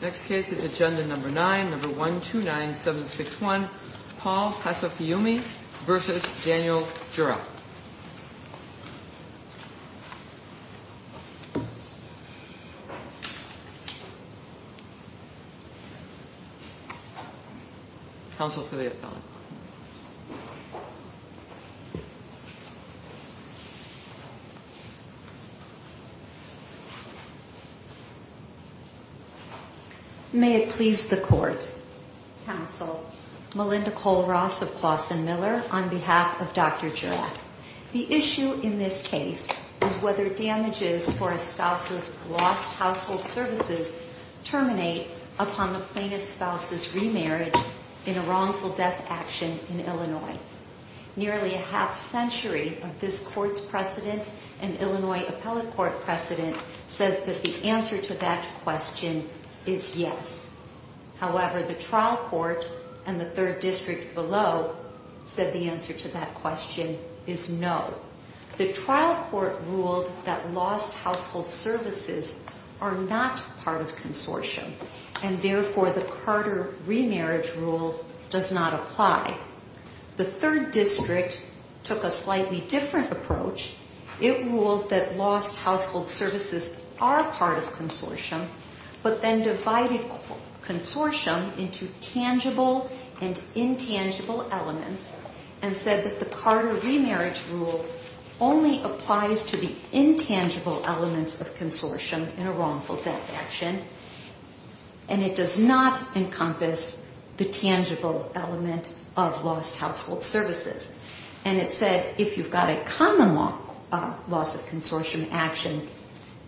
Next case is Agenda No. 9, No. 129761, Paul Hasafiume v. Daniel Jurak Counsel for the appellant May it please the Court Counsel, Melinda Cole-Ross of Clausen Miller, on behalf of Dr. Jurak The issue in this case is whether damages for a spouse's lost household services terminate upon the plaintiff's spouse's remarriage in a wrongful death action in Illinois Nearly a half century of this Court's precedent and Illinois appellate court precedent says that the answer to that question is yes However, the trial court and the third district below said the answer to that question is no The trial court ruled that lost household services are not part of consortium and therefore the Carter remarriage rule does not apply The third district took a slightly different approach It ruled that lost household services are part of consortium but then divided consortium into tangible and intangible elements And said that the Carter remarriage rule only applies to the intangible elements of consortium in a wrongful death action And it does not encompass the tangible element of lost household services And it said if you've got a common loss of consortium action,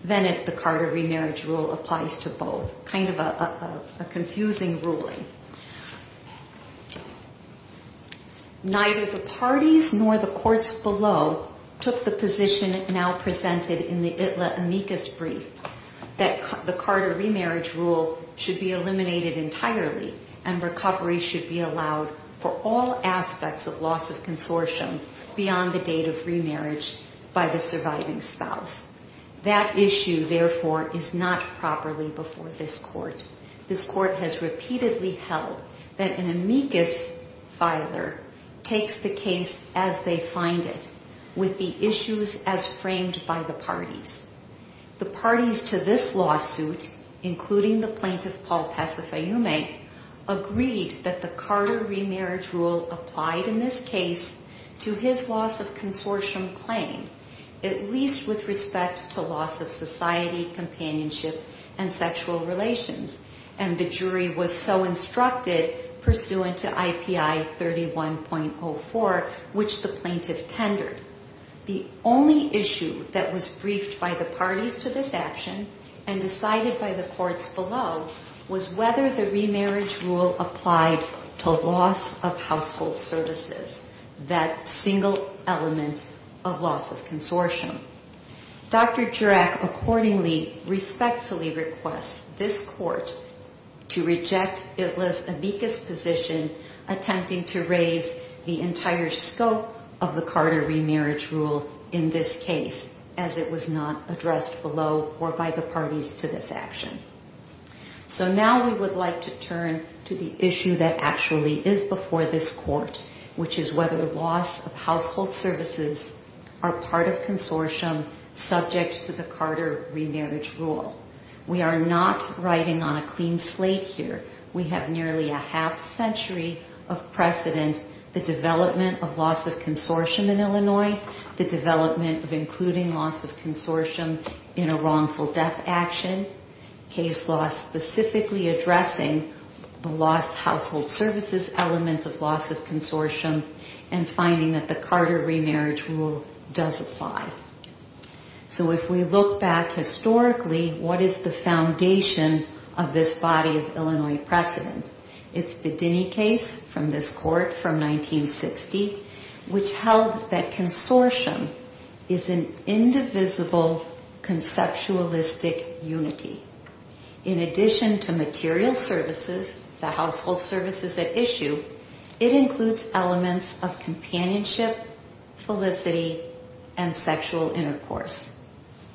then the Carter remarriage rule applies to both So, kind of a confusing ruling Neither the parties nor the courts below took the position now presented in the ITLA amicus brief That the Carter remarriage rule should be eliminated entirely and recovery should be allowed for all aspects of loss of consortium beyond the date of remarriage by the surviving spouse That issue, therefore, is not properly before this court This court has repeatedly held that an amicus filer takes the case as they find it with the issues as framed by the parties The parties to this lawsuit, including the plaintiff Paul Pasifyume, agreed that the Carter remarriage rule applied in this case to his loss of consortium claim At least with respect to loss of society, companionship, and sexual relations And the jury was so instructed pursuant to IPI 31.04, which the plaintiff tendered The only issue that was briefed by the parties to this action and decided by the courts below was whether the remarriage rule applied to loss of household services That single element of loss of consortium Dr. Jurack accordingly respectfully requests this court to reject ITLA's amicus position Attempting to raise the entire scope of the Carter remarriage rule in this case as it was not addressed below or by the parties to this action So now we would like to turn to the issue that actually is before this court Which is whether loss of household services are part of consortium subject to the Carter remarriage rule We are not riding on a clean slate here We have nearly a half century of precedent The development of loss of consortium in Illinois The development of including loss of consortium in a wrongful death action Case law specifically addressing the loss of household services element of loss of consortium And finding that the Carter remarriage rule does apply So if we look back historically, what is the foundation of this body of Illinois precedent? It's the Dini case from this court from 1960 Which held that consortium is an indivisible conceptualistic unity In addition to material services, the household services at issue It includes elements of companionship, felicity, and sexual intercourse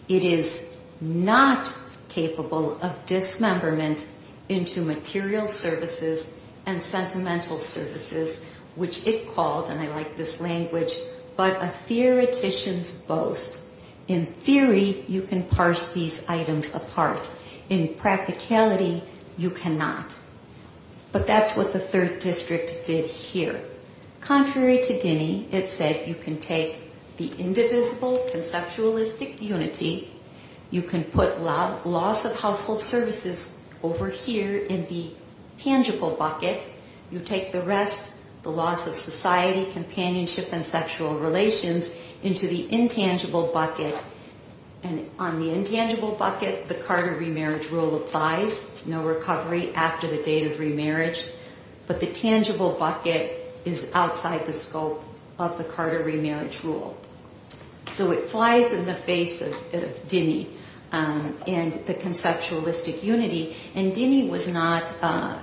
It is not capable of dismemberment into material services and sentimental services Which it called, and I like this language, but a theoretician's boast In theory, you can parse these items apart In practicality, you cannot But that's what the third district did here Contrary to Dini, it said you can take the indivisible conceptualistic unity You can put loss of household services over here in the tangible bucket You take the rest, the loss of society, companionship, and sexual relations Into the intangible bucket And on the intangible bucket, the Carter remarriage rule applies No recovery after the date of remarriage But the tangible bucket is outside the scope of the Carter remarriage rule So it flies in the face of Dini and the conceptualistic unity And Dini was not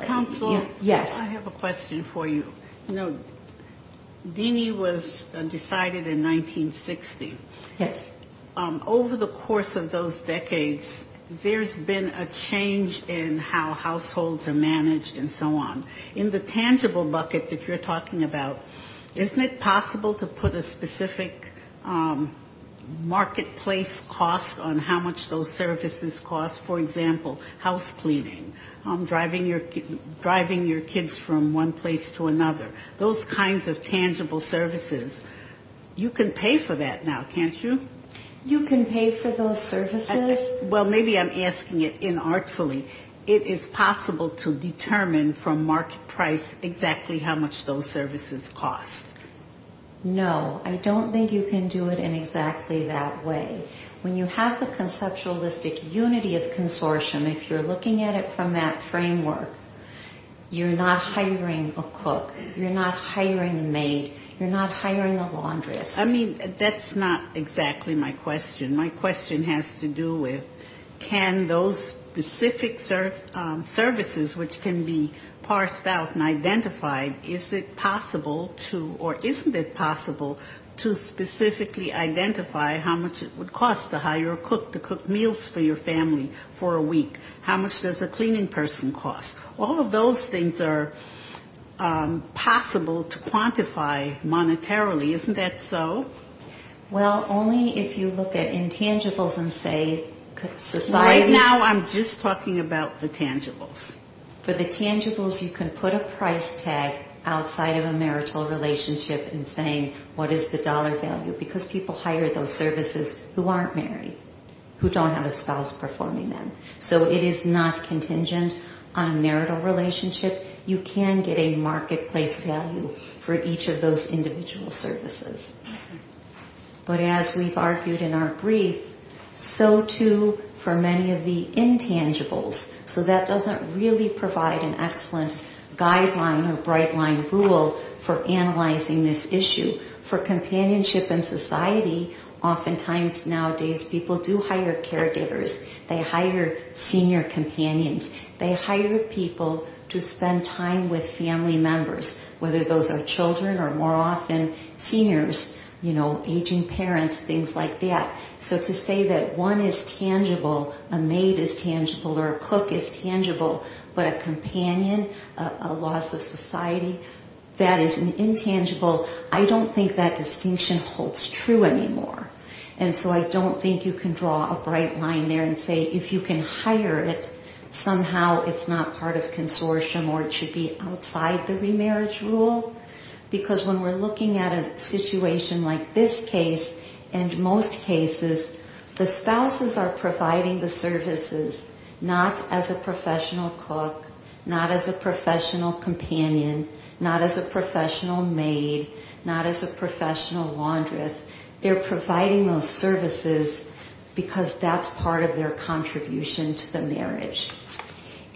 Counsel? Yes I have a question for you Dini was decided in 1960 Yes Over the course of those decades There's been a change in how households are managed and so on In the tangible bucket that you're talking about Isn't it possible to put a specific marketplace cost on how much those services cost? For example, house cleaning Driving your kids from one place to another Those kinds of tangible services You can pay for that now, can't you? You can pay for those services? Well, maybe I'm asking it inartfully It is possible to determine from market price exactly how much those services cost No, I don't think you can do it in exactly that way When you have the conceptualistic unity of consortium If you're looking at it from that framework You're not hiring a cook You're not hiring a maid You're not hiring a laundress I mean, that's not exactly my question My question has to do with Can those specific services Which can be parsed out and identified Is it possible to Or isn't it possible to specifically identify How much it would cost to hire a cook to cook meals for your family for a week How much does a cleaning person cost? All of those things are possible to quantify monetarily Isn't that so? Well, only if you look at intangibles and say Right now, I'm just talking about the tangibles For the tangibles, you can put a price tag Outside of a marital relationship And saying what is the dollar value Because people hire those services who aren't married Who don't have a spouse performing them So it is not contingent on a marital relationship You can get a marketplace value For each of those individual services But as we've argued in our brief So too for many of the intangibles So that doesn't really provide an excellent guideline Or bright line rule for analyzing this issue For companionship in society Oftentimes nowadays people do hire caregivers They hire senior companions They hire people to spend time with family members Whether those are children or more often seniors Aging parents, things like that So to say that one is tangible A maid is tangible or a cook is tangible But a companion, a loss of society That is an intangible I don't think that distinction holds true anymore And so I don't think you can draw a bright line there And say if you can hire it Somehow it's not part of consortium Or it should be outside the remarriage rule Because when we're looking at a situation like this case And most cases The spouses are providing the services Not as a professional cook Not as a professional companion Not as a professional maid Not as a professional laundress They're providing those services Because that's part of their contribution to the marriage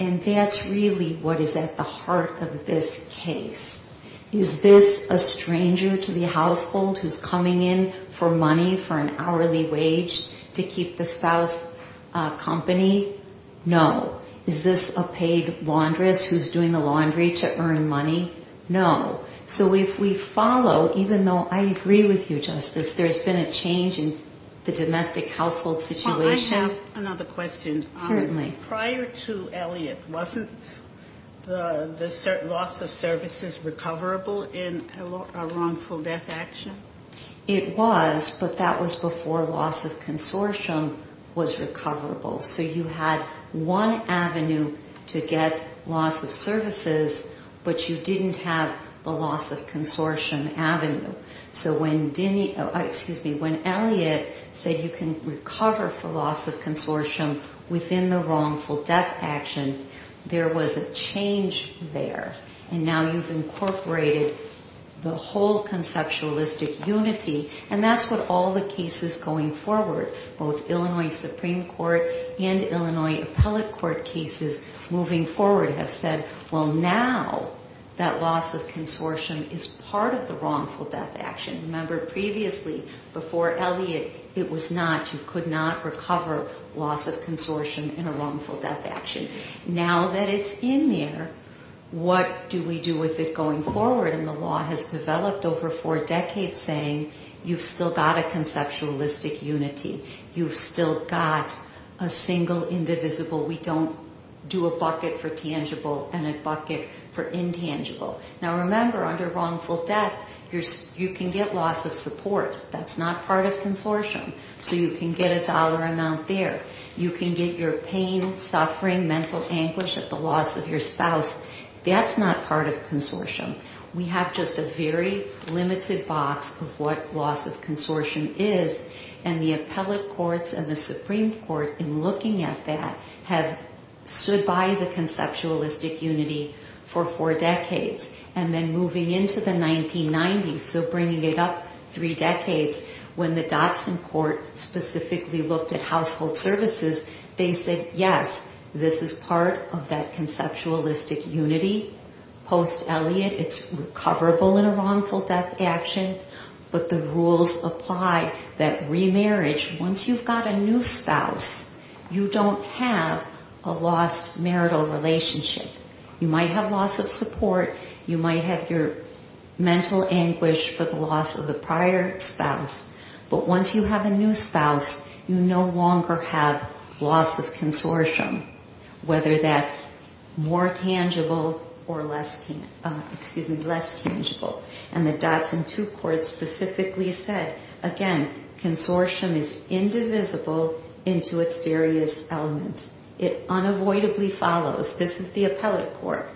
And that's really what is at the heart of this case Is this a stranger to the household Who's coming in for money for an hourly wage To keep the spouse company? No. Is this a paid laundress who's doing the laundry to earn money? No. So if we follow, even though I agree with you Justice There's been a change in the domestic household situation I have another question. Prior to Elliot, wasn't the loss of services recoverable In a wrongful death action? It was But that was before loss of consortium was recoverable So you had one avenue to get loss of services But you didn't have the loss of consortium avenue So when Elliot said You can recover for loss of services You can recover for loss of consortium Within the wrongful death action There was a change there And now you've incorporated the whole conceptualistic unity And that's what all the cases going forward Both Illinois Supreme Court and Illinois Appellate Court cases Moving forward have said Well now that loss of consortium Is part of the wrongful death action Remember previously before Elliot It was not, you could not recover loss of consortium In a wrongful death action Now that it's in there, what do we do with it going forward? And the law has developed over four decades Saying you've still got a conceptualistic unity You've still got a single indivisible We don't do a bucket for tangible And a bucket for intangible Now remember under wrongful death You can get loss of support, that's not part of consortium So you can get a dollar amount there You can get your pain, suffering, mental anguish At the loss of your spouse, that's not part of consortium We have just a very limited box Of what loss of consortium is And the appellate courts and the Supreme Court In looking at that have stood by the conceptualistic unity For four decades and then moving into the 1990s So bringing it up three decades When the Dotson Court specifically looked at household services They said yes, this is part of that conceptualistic unity Post Elliot It's recoverable in a wrongful death action But the rules apply That remarriage, once you've got a new spouse You don't have a lost marital relationship You might have loss of support You might have your mental anguish for the loss of the prior spouse But once you have a new spouse You no longer have loss of consortium Whether that's more tangible Or less tangible And the Dotson two courts specifically said Again, consortium is indivisible Into its various elements It unavoidably follows This is the appellate court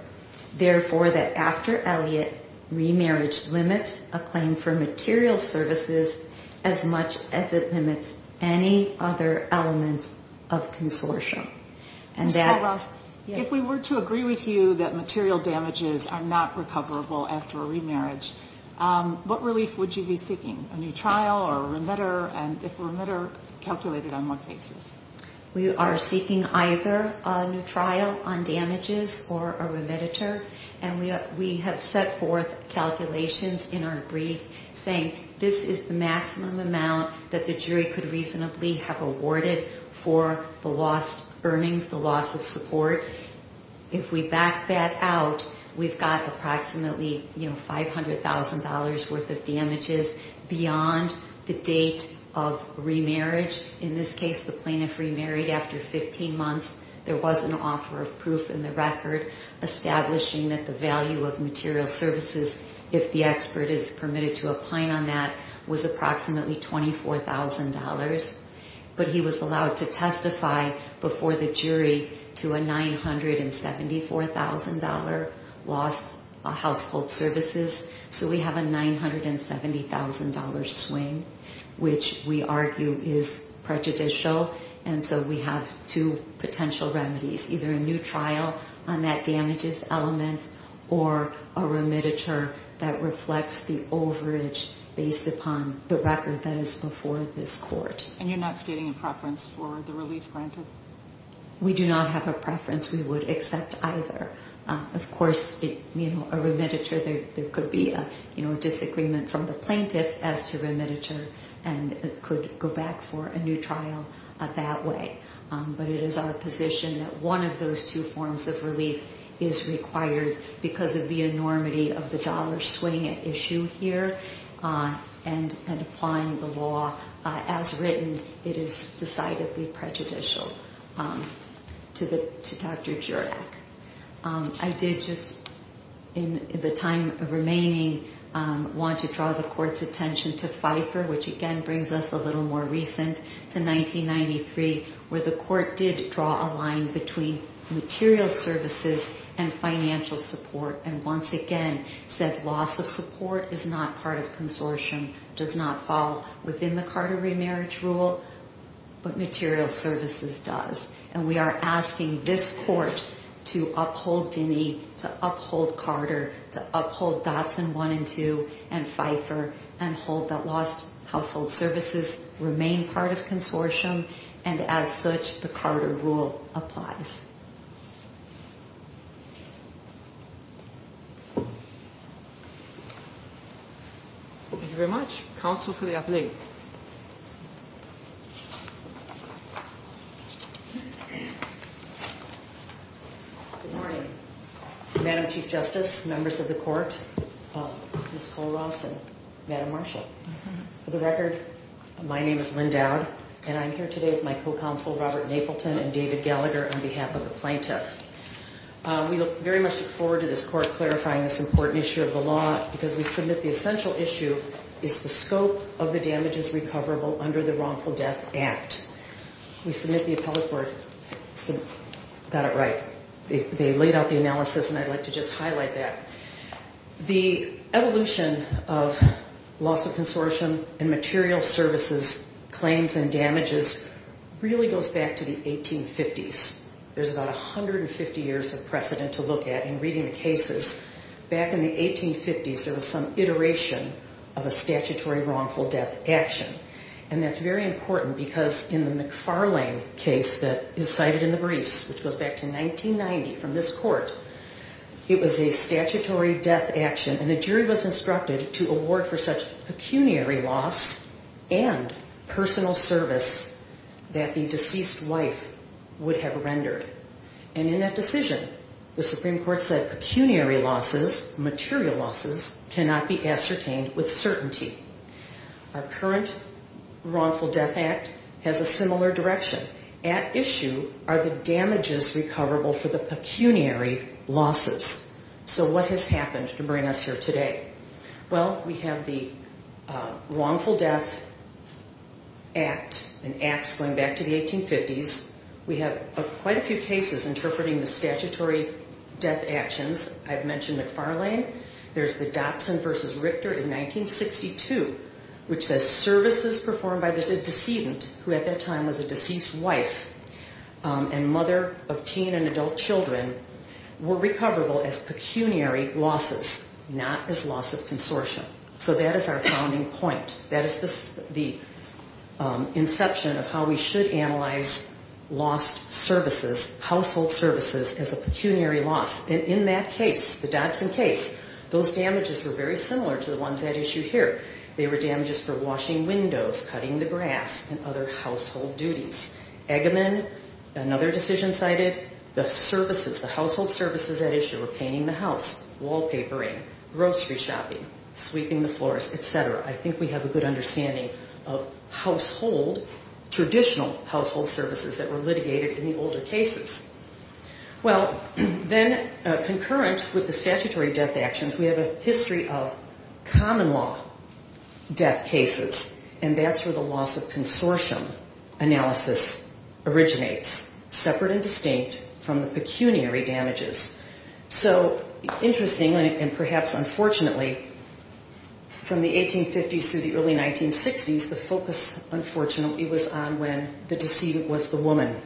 Therefore that after Elliot, remarriage limits A claim for material services as much as it limits Any other element of consortium And that If we were to agree with you that material damages Are not recoverable after a remarriage What relief would you be seeking? A new trial or a remitter And if a remitter calculated on what basis? We are seeking either a new trial on damages Or a remitter And we have set forth calculations in our brief Saying this is the maximum amount That the jury could reasonably have awarded For the lost earnings, the loss of support If we back that out We've got approximately $500,000 worth of damages Beyond the date of remarriage In this case the plaintiff remarried after 15 months There was an offer of proof in the record Establishing that the value of material services If the expert is permitted to apply on that Was approximately $24,000 But he was allowed to testify Before the jury to a $974,000 Loss of household services So we have a $970,000 swing Which we argue is prejudicial And so we have two potential remedies Either a new trial on that damages element Or a remitter that reflects The overage based upon the record That is before this court And you're not stating a preference for the relief granted? We do not have a preference We would accept either Of course a remitter There could be a disagreement from the plaintiff As to remitter and it could go back for a new trial That way But it is our position that one of those two forms of relief Is required because of the enormity Of the dollar swing at issue here And applying the law As written it is decidedly prejudicial To Dr. Jurek I did just In the time remaining Want to draw the court's attention to Pfeiffer Which again brings us a little more recent to 1993 Where the court did draw a line between Material services and financial support And once again said loss of support is not part of consortium Does not fall within the Carter remarriage rule But material services does And we are asking this court To uphold Dinnie, to uphold Carter To uphold Dodson 1 and 2 and Pfeiffer And hold that lost household services Remain part of consortium And as such the Carter rule applies Thank you very much Counsel for the appellate Good morning Madam Chief Justice Members of the court Ms. Kollross and Madam Marshall For the record my name is Lynn Dowd And I am here today with my co-counsel Robert Napleton And David Gallagher on behalf of the plaintiff We very much look forward to this court Clarifying this important issue of the law Because we submit the essential issue Is the scope of the damages recoverable under the wrongful death act We submit the appellate court Got it right They laid out the analysis and I would like to just highlight that The evolution of loss of consortium And material services claims and damages Really goes back to the 1850s There is about 150 years of precedent to look at In reading the cases Back in the 1850s there was some iteration of a statutory wrongful death action And that is very important Because in the McFarlane case that is cited in the briefs Which goes back to 1990 from this court It was a statutory death action And the jury was instructed to award for such pecuniary loss And personal service That the deceased wife would have rendered And in that decision the Supreme Court said Pecuniary losses, material losses Cannot be ascertained with certainty Our current wrongful death act has a similar direction At issue are the damages recoverable For the pecuniary losses So what has happened to bring us here today Well we have the wrongful death act And acts going back to the 1850s We have quite a few cases Interpreting the statutory death actions I have mentioned McFarlane There is the Dotson v. Richter in 1962 Which says services performed by the decedent Who at that time was a deceased wife And mother of teen and adult children Were recoverable as pecuniary losses Not as loss of consortium So that is our founding point That is the inception of how we should analyze Lost services, household services As a pecuniary loss And in that case, the Dotson case Those damages were very similar to the ones at issue here They were damages for washing windows, cutting the grass And other household duties Eggaman, another decision cited The services, the household services at issue Repainting the house, wallpapering, grocery shopping Sweeping the floors, etc. I think we have a good understanding of household Traditional household services that were litigated in the older cases Well then concurrent with the statutory death actions We have a history of common law death cases And that's where the loss of consortium analysis originates Separate and distinct from the pecuniary damages So interesting and perhaps unfortunately From the 1850s through the early 1960s The focus unfortunately was on when the decedent was the woman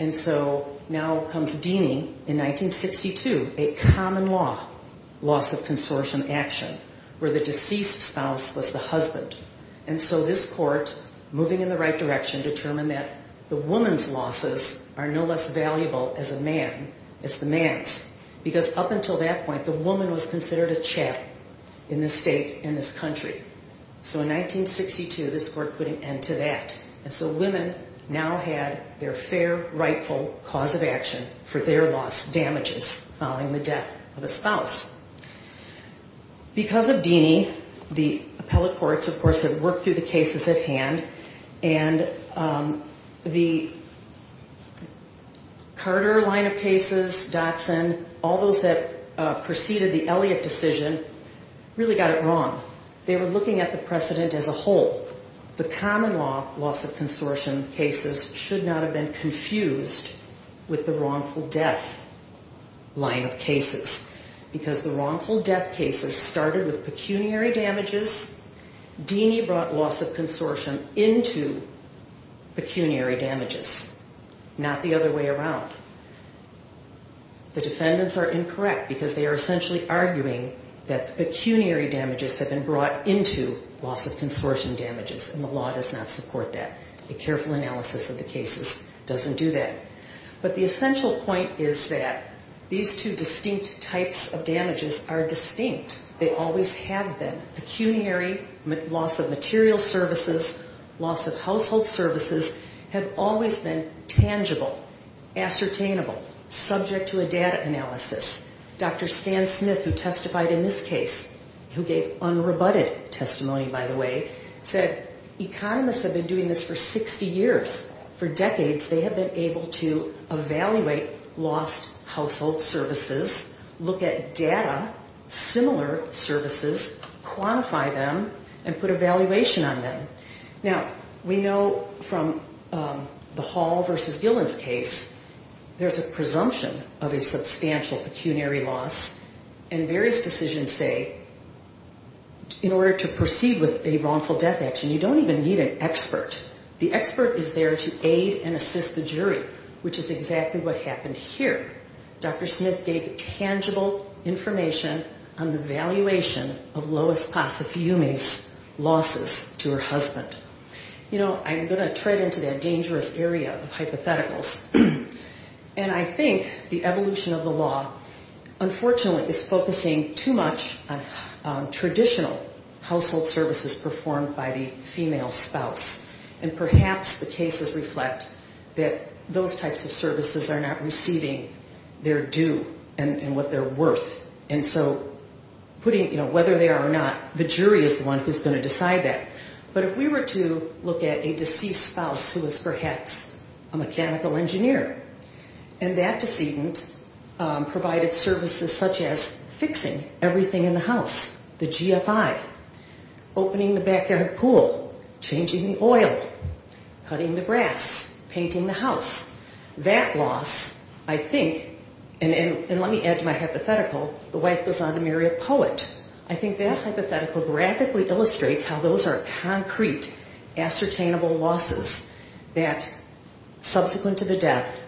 And so now comes Deany in 1962 A common law loss of consortium action And the decedent was the mother And so this court, moving in the right direction Determined that the woman's losses are no less valuable As a man, as the man's Because up until that point, the woman was considered a chap In this state, in this country So in 1962, this court put an end to that And so women now had their fair, rightful Cause of action for their loss, damages Following the death of a spouse Because of Deany, the appellate courts Of course had worked through the cases at hand And the Carter line of cases Dotson, all those that preceded the Elliot decision Really got it wrong They were looking at the precedent as a whole The common law loss of consortium cases Should not have been confused with the wrongful death Line of cases Because the wrongful death cases started with pecuniary damages Deany brought loss of consortium into Pecuniary damages Not the other way around The defendants are incorrect because they are essentially arguing That the pecuniary damages have been brought into Loss of consortium damages And the law does not support that A careful analysis of the cases doesn't do that But the essential point is that These two distinct types of damages are distinct They always have been Pecuniary, loss of material services Loss of household services Have always been tangible, ascertainable Subject to a data analysis Dr. Stan Smith who testified in this case Who gave unrebutted testimony by the way Said economists have been doing this for 60 years For decades they have been able to Evaluate lost household services Look at data, similar services Quantify them and put evaluation on them Now we know from The Hall versus Gillens case There's a presumption of a substantial pecuniary loss And various decisions say In order to proceed with a wrongful death action You don't even need an expert The expert is there to aid and assist the jury Which is exactly what happened here Dr. Smith gave tangible information On the evaluation of Lois Pasifiumi's losses To her husband I'm going to tread into that dangerous area of hypotheticals And I think the evolution of the law Unfortunately is focusing too much On traditional household services Performed by the female spouse And perhaps the cases reflect that those types of services Are not receiving their due And what they're worth And so whether they are or not The jury is the one who's going to decide that But if we were to look at a deceased spouse Who was perhaps a mechanical engineer And that decedent provided services Such as fixing everything in the house The GFI, opening the backyard pool Changing the oil, cutting the grass Painting the house That loss I think And let me add to my hypothetical The wife goes on to marry a poet I think that hypothetical graphically illustrates How those are concrete, ascertainable losses That subsequent to the death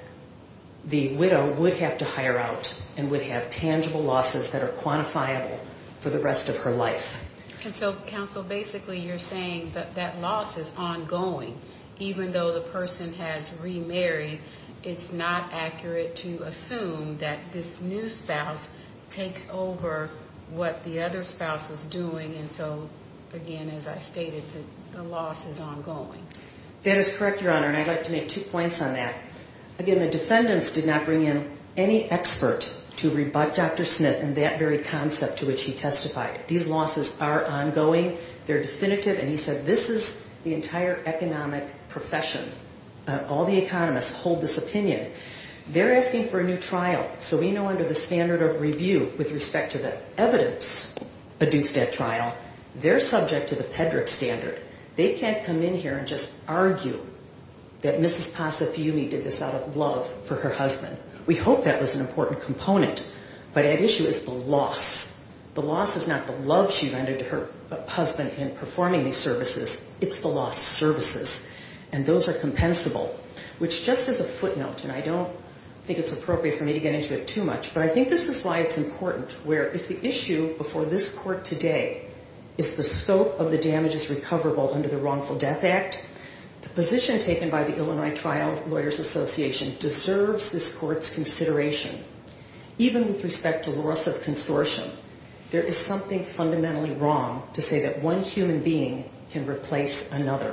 The widow would have to hire out And would have tangible losses that are quantifiable For the rest of her life And so counsel, basically you're saying that loss is ongoing Even though the person has remarried It's not accurate to assume that this new spouse Takes over what the other spouse is doing And so again, as I stated The loss is ongoing That is correct, Your Honor And I'd like to make two points on that Again, the defendants did not bring in any expert To rebut Dr. Smith and that very concept to which he testified These losses are ongoing, they're definitive And he said this is the entire economic profession All the economists hold this opinion They're asking for a new trial So we know under the standard of review With respect to the evidence produced at trial They're subject to the Pedrick standard They can't come in here and just argue That Mrs. Passifiumi did this out of love for her husband We hope that was an important component But at issue is the loss The loss is not the love she rendered to her husband in performing these services It's the lost services And those are compensable Which just as a footnote, and I don't think it's appropriate for me to get into it too much But I think this is why it's important Where if the issue before this court today Is the scope of the damages recoverable under the wrongful death act The position taken by the Illinois Trial Lawyers Association Deserves this court's consideration Even with respect to loss of consortium There is something fundamentally wrong To say that one human being can replace another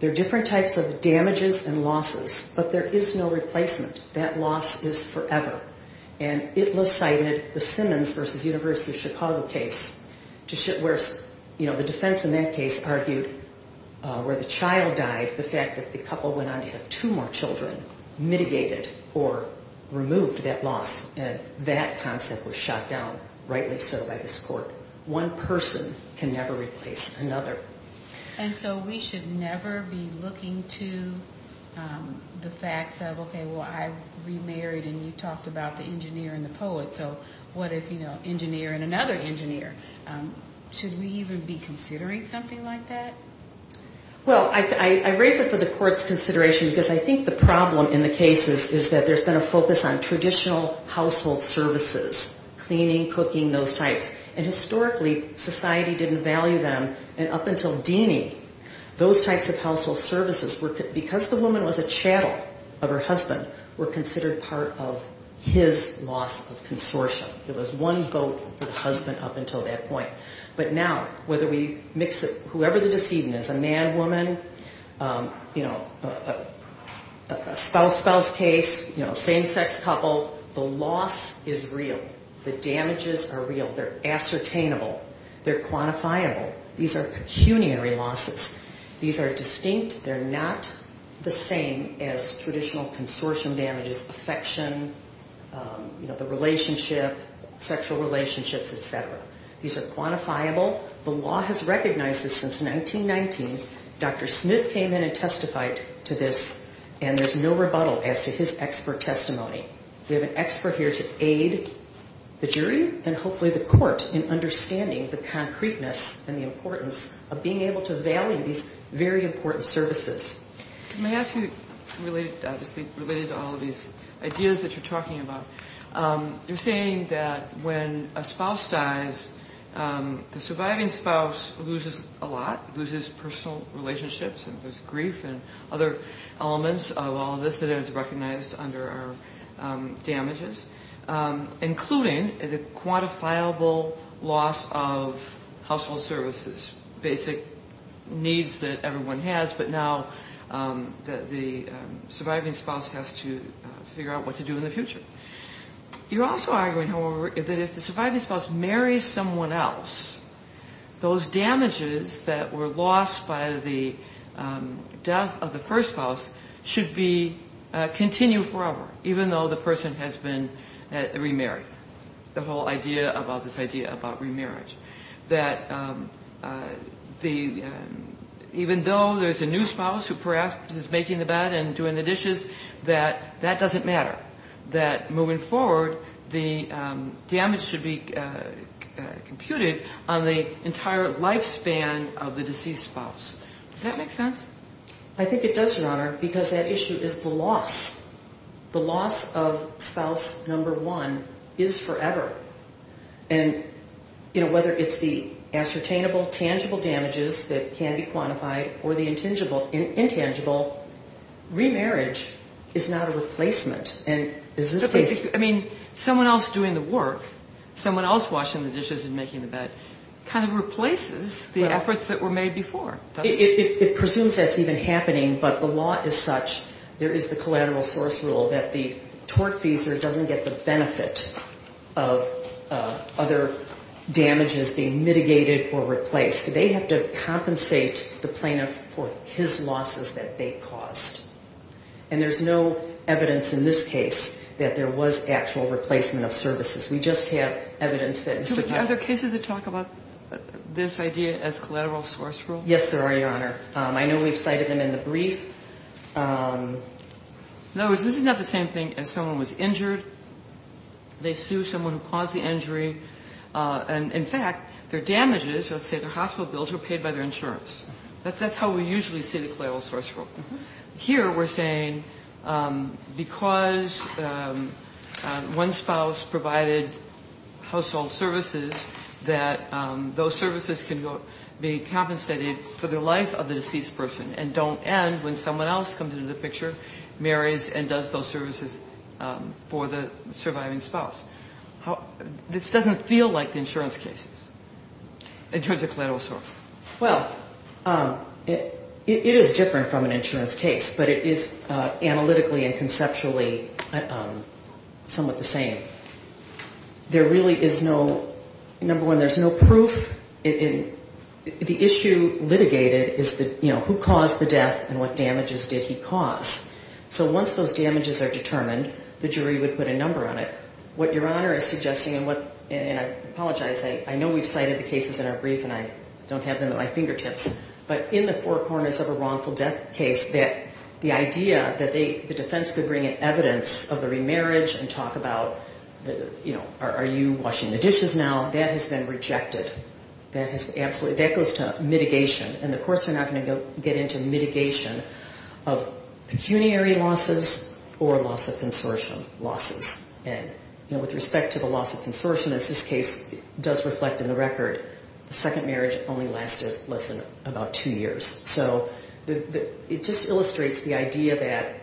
There are different types of damages and losses But there is no replacement That loss is forever And it was cited, the Simmons v. University of Chicago case Where the defense in that case argued Where the child died, the fact that the couple went on to have two more children Mitigated or removed that loss And that concept was shot down Rightly so by this court One person can never replace another And so we should never be looking to The facts of, okay, well I remarried And you talked about the engineer and the poet So what if, you know, engineer and another engineer Should we even be considering something like that? Well, I raise it for the court's consideration Because I think the problem in the cases Is that there's been a focus on traditional household services Cleaning, cooking, those types And historically society didn't value them And up until Deany, those types of household services Because the woman was a chattel of her husband Were considered part of his loss of consortium There was one vote for the husband up until that point But now whether we mix it Whoever the decedent is, a man, woman You know, a spouse-spouse case Same-sex couple, the loss is real The damages are real. They're ascertainable They're quantifiable. These are pecuniary losses These are distinct. They're not the same As traditional consortium damages Such as affection, the relationship Sexual relationships, etc. These are quantifiable. The law has recognized this since 1919 Dr. Smith came in and testified to this And there's no rebuttal as to his expert testimony We have an expert here to aid the jury And hopefully the court in understanding The concreteness and the importance of being able to value These very important services Can I ask you, related to all these ideas That you're talking about You're saying that when a spouse dies The surviving spouse loses a lot Loses personal relationships And there's grief and other elements of all this That is recognized under our damages Including the quantifiable loss of Household services There's basic needs that everyone has But now the surviving spouse Has to figure out what to do in the future You're also arguing, however, that if the surviving spouse Marries someone else Those damages that were lost by the Death of the first spouse should be Continued forever, even though the person has been Remarried The whole idea about this idea about remarriage That even though there's a new spouse Who perhaps is making the bed and doing the dishes That that doesn't matter That moving forward, the damage should be Computed on the entire lifespan Of the deceased spouse Does that make sense? I think it does, Your Honor, because that issue is the loss The loss of spouse number one is forever And whether it's the Ascertainable, tangible damages that can be quantified Or the intangible Remarriage is not a replacement Someone else doing the work Someone else washing the dishes and making the bed Kind of replaces the efforts that were made before It presumes that's even happening, but the law is such That there is the collateral source rule that the Tortfeasor doesn't get the benefit of Other damages being mitigated or replaced They have to compensate the plaintiff For his losses that they caused And there's no evidence in this case That there was actual replacement of services We just have evidence that Mr. Are there cases that talk about this idea as collateral source rule? Yes, there are, Your Honor. I know we've cited them in the brief In other words, this is not the same thing As someone was injured They sue someone who caused the injury And in fact, their damages, let's say their hospital bills Were paid by their insurance That's how we usually see the collateral source rule Here we're saying because One spouse provided household services That those services can be compensated For the life of the deceased person And don't end when someone else comes into the picture Marries and does those services for the surviving spouse This doesn't feel like the insurance cases In terms of collateral source Well, it is different from an insurance case But it is analytically and conceptually Somewhat the same There really is no Number one, there's no proof The issue litigated is who caused the death And what damages did he cause So once those damages are determined, the jury would put a number on it What Your Honor is suggesting And I apologize, I know we've cited the cases in our brief And I don't have them at my fingertips But in the four corners of a wrongful death case The idea that the defense could bring in evidence Of the remarriage and talk about Are you washing the dishes now, that has been rejected That goes to mitigation And the courts are not going to get into mitigation Of pecuniary losses or loss of consortium losses And with respect to the loss of consortium As this case does reflect in the record The second marriage only lasted less than about two years So it just illustrates the idea that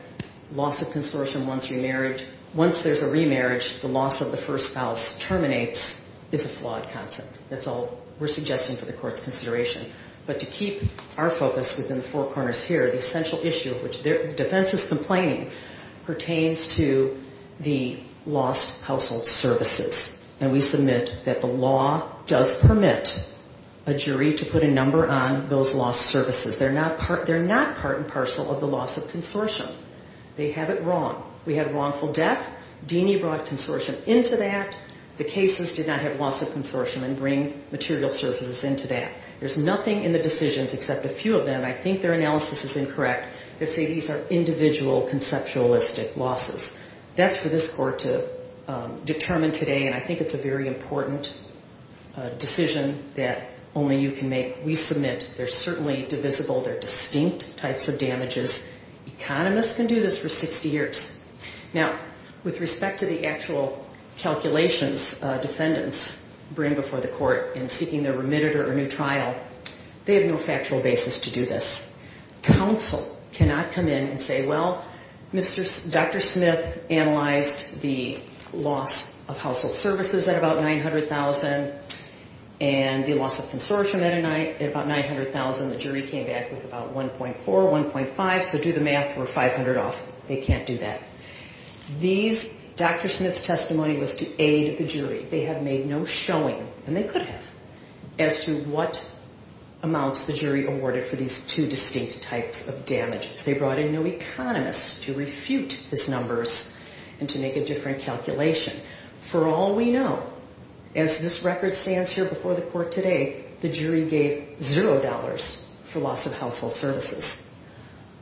Loss of consortium once remarriage Once there's a remarriage, the loss of the first spouse terminates Is a flawed concept That's all we're suggesting for the court's consideration But to keep our focus within the four corners here The essential issue of which the defense is complaining Pertains to the lost household services And we submit that the law does permit A jury to put a number on those lost services They're not part and parcel of the loss of consortium They have it wrong. We had wrongful death Deeney brought consortium into that The cases did not have loss of consortium and bring material services into that There's nothing in the decisions except a few of them I think their analysis is incorrect That say these are individual conceptualistic losses That's for this court to determine today And I think it's a very important decision that only you can make We submit they're certainly divisible They're distinct types of damages Economists can do this for 60 years Now with respect to the actual calculations Defendants bring before the court In seeking their remitted or new trial They have no factual basis to do this Counsel cannot come in and say well Dr. Smith analyzed the loss of household services At about 900,000 And the loss of consortium At about 900,000 The jury came back with about 1.4, 1.5 So do the math, we're 500 off. They can't do that Dr. Smith's testimony was to aid the jury They have made no showing, and they could have As to what amounts the jury awarded For these two distinct types of damages They brought in no economist to refute these numbers And to make a different calculation For all we know, as this record stands here before the court today The jury gave zero dollars for loss of household services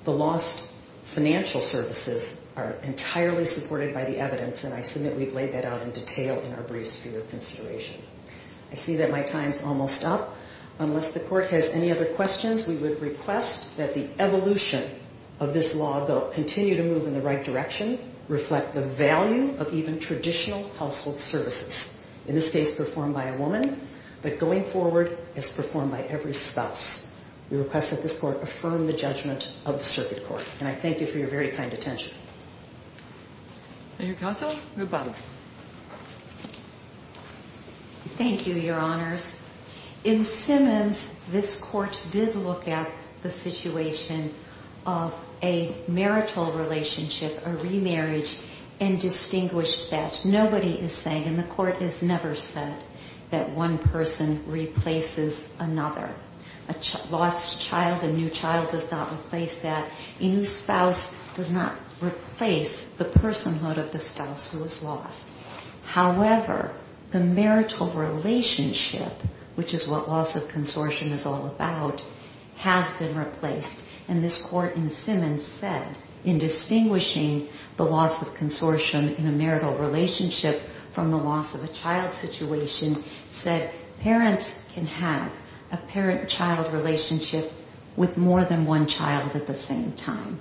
The lost financial services Are entirely supported by the evidence And I submit we've laid that out in detail In our briefs for your consideration I see that my time's almost up Unless the court has any other questions We would request that the evolution of this law Continue to move in the right direction Reflect the value of even traditional household services In this case performed by a woman But going forward as performed by every spouse We request that this court affirm the judgment of the circuit court And I thank you for your very kind attention Thank you Thank you, your honors In Simmons, this court did look at The situation of a marital relationship A remarriage And distinguished that Nobody is saying, and the court has never said That one person replaces another A lost child, a new child does not replace that A new spouse does not replace The personhood of the spouse who is lost However, the marital relationship Which is what loss of consortium is all about Has been replaced And this court in Simmons said In distinguishing the loss of consortium in a marital relationship From the loss of a child situation Said parents can have a parent-child relationship With more than one child at the same time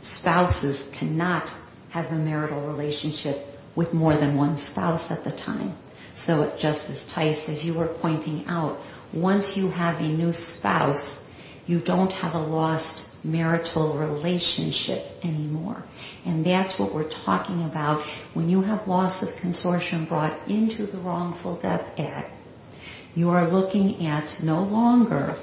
Spouses cannot have a marital relationship With more than one spouse at the time So Justice Tice, as you were pointing out Once you have a new spouse You don't have a lost marital relationship anymore And that's what we're talking about When you have loss of consortium brought into the wrongful death act You are looking at no longer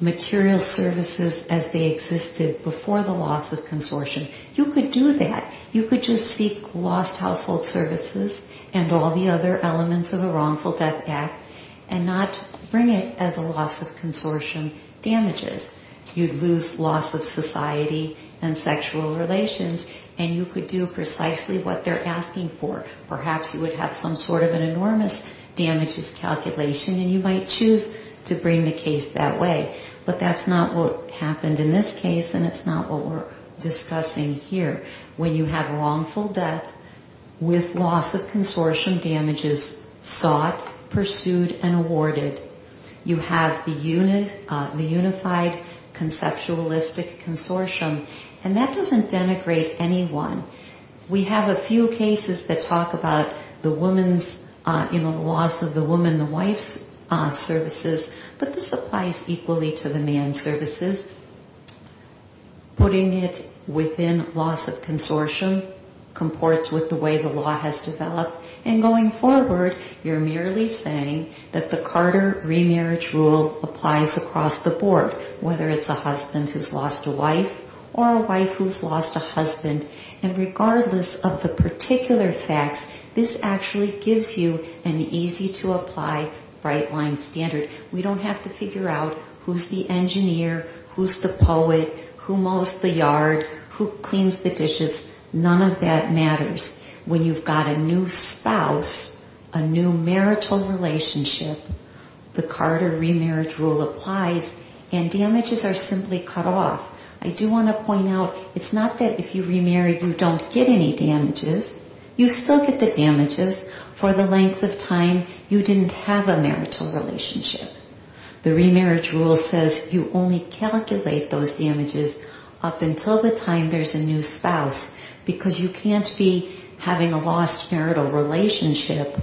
Material services as they existed before the loss of consortium You could do that You could just seek lost household services And all the other elements of the wrongful death act And not bring it as a loss of consortium damages You'd lose loss of society And sexual relations And you could do precisely what they're asking for Perhaps you would have some sort of an enormous damages calculation And you might choose to bring the case that way But that's not what happened in this case And it's not what we're discussing here When you have wrongful death With loss of consortium damages Sought, pursued, and awarded You have the unified conceptualistic consortium And that doesn't denigrate anyone We have a few cases that talk about The loss of the woman, the wife's services But this applies equally to the man's services Putting it within loss of consortium Comports with the way the law has developed And going forward You're merely saying that the Carter remarriage rule Applies across the board Whether it's a husband who's lost a wife Or a wife who's lost a husband And regardless of the particular facts This actually gives you an easy-to-apply Bright-line standard We don't have to figure out who's the engineer, who's the poet Who mows the yard, who cleans the dishes None of that matters When you've got a new spouse A new marital relationship The Carter remarriage rule applies And damages are simply cut off I do want to point out It's not that if you remarry you don't get any damages You still get the damages for the length of time You didn't have a marital relationship The remarriage rule says you only calculate those damages Up until the time there's a new spouse Because you can't be having a lost marital relationship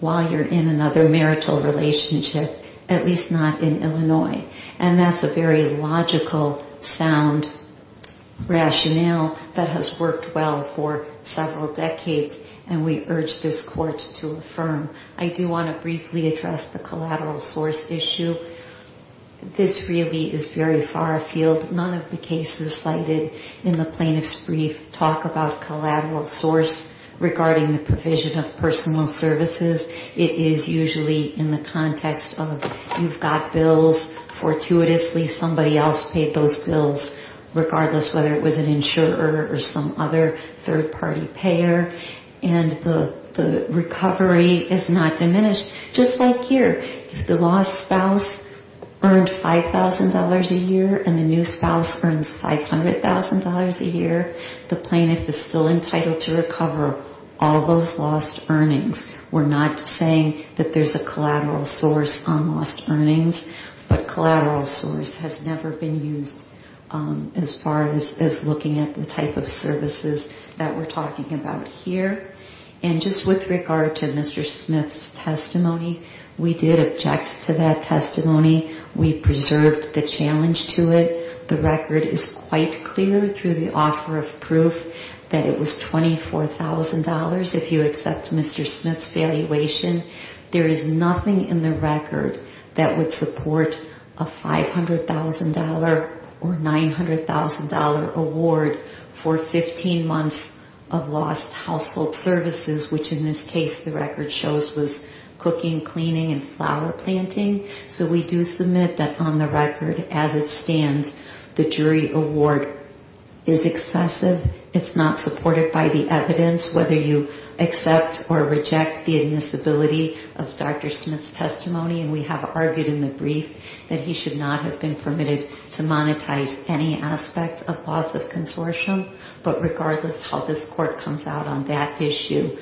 While you're in another marital relationship At least not in Illinois And that's a very logical, sound rationale That has worked well for several decades And we urge this court to affirm I do want to briefly address the collateral source issue This really is very far-field None of the cases cited in the plaintiff's brief Talk about collateral source Regarding the provision of personal services It is usually in the context of You've got bills, fortuitously somebody else paid those bills Regardless whether it was an insurer Or some other third-party payer And the recovery is not diminished Just like here If the lost spouse earned $5,000 a year And the new spouse earns $500,000 a year The plaintiff is still entitled to recover All those lost earnings We're not saying that there's a collateral source on lost earnings But collateral source has never been used As far as looking at the type of services That we're talking about here And just with regard to Mr. Smith's testimony We did object to that testimony We preserved the challenge to it The record is quite clear through the offer of proof That it was $24,000 If you accept Mr. Smith's valuation There is nothing in the record that would support A $500,000 or $900,000 award For 15 months Of lost household services Which in this case the record shows was Cooking, cleaning, and flower planting So we do submit that on the record as it stands The jury award is excessive It's not supported by the evidence Whether you accept or reject the admissibility Of Dr. Smith's testimony And we have argued in the brief That he should not have been permitted to monetize Any aspect of loss of consortium But regardless how this court comes out on that issue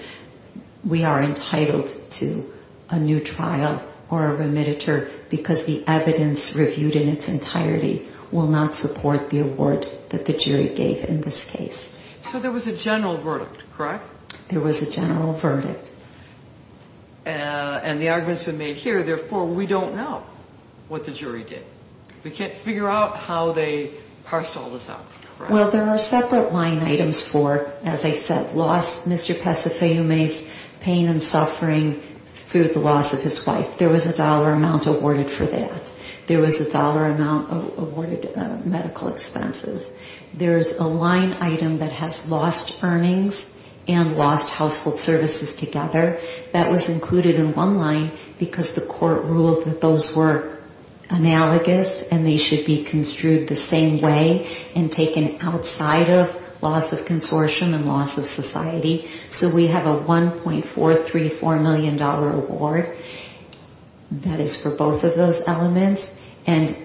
We are entitled to a new trial Or a remittiture Because the evidence reviewed in its entirety Will not support the award that the jury gave in this case So there was a general verdict, correct? There was a general verdict And the argument's been made here Therefore we don't know what the jury did We can't figure out how they parsed all this out Well there are separate line items for, as I said Loss, Mr. Pesafumi's pain and suffering Through the loss of his wife There was a dollar amount awarded for that There was a dollar amount awarded for medical expenses There's a line item that has lost earnings And lost household services together That was included in one line Because the court ruled that those were analogous And they should be construed the same way And taken outside of loss of consortium And loss of society So we have a 1.434 million dollar award That is for both of those elements And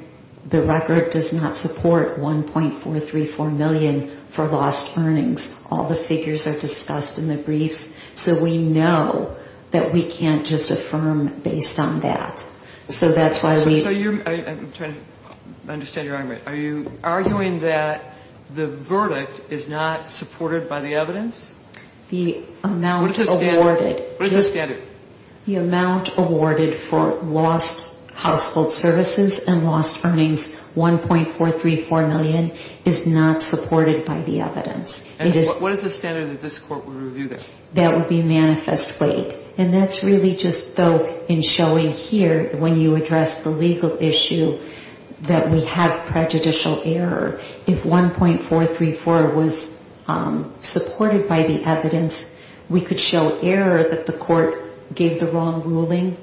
the record does not support 1.434 million For lost earnings All the figures are discussed in the briefs So we know that we can't just affirm based on that So that's why we I'm trying to understand your argument Are you arguing that the verdict is not supported by the evidence? The amount awarded What is the standard? The amount awarded for lost household services And lost earnings, 1.434 million Is not supported by the evidence What is the standard that this court would review there? That would be manifest weight And that's really just though in showing here When you address the legal issue That we have prejudicial error If 1.434 was supported by the evidence We could show error that the court gave the wrong ruling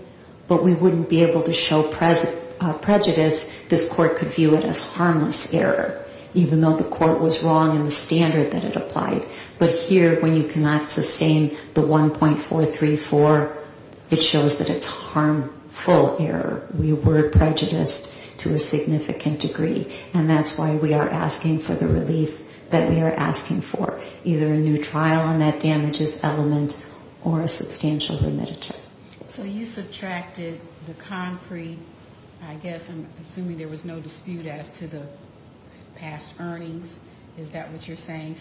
But we wouldn't be able to show prejudice This court could view it as harmless error Even though the court was wrong in the standard that it applied But here when you cannot sustain the 1.434 It shows that it's harmful error We were prejudiced to a significant degree And that's why we are asking for the relief That we are asking for Either a new trial and that damages element Or a substantial remittance So you subtracted the concrete I'm assuming there was no dispute as to the past earnings Is that what you're saying?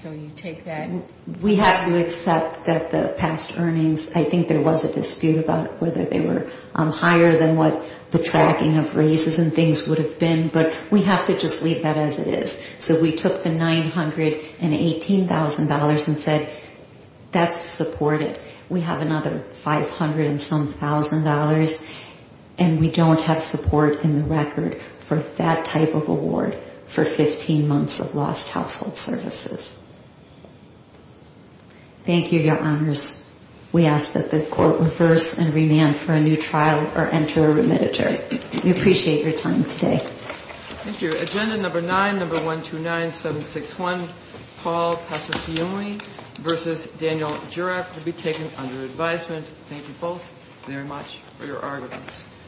We have to accept that the past earnings I think there was a dispute about whether they were higher Than what the tracking of raises and things would have been But we have to just leave that as it is So we took the $918,000 And said that's supported We have another $500,000 And we don't have support in the record For that type of award For 15 months of lost household services Thank you, your honors We ask that the court reverse and remand For a new trial or enter a remittance We appreciate your time today Thank you. Agenda number 9, number 129761 Paul Pasciulli vs. Daniel Jurek Will be taken under advisement Thank you both very much for your arguments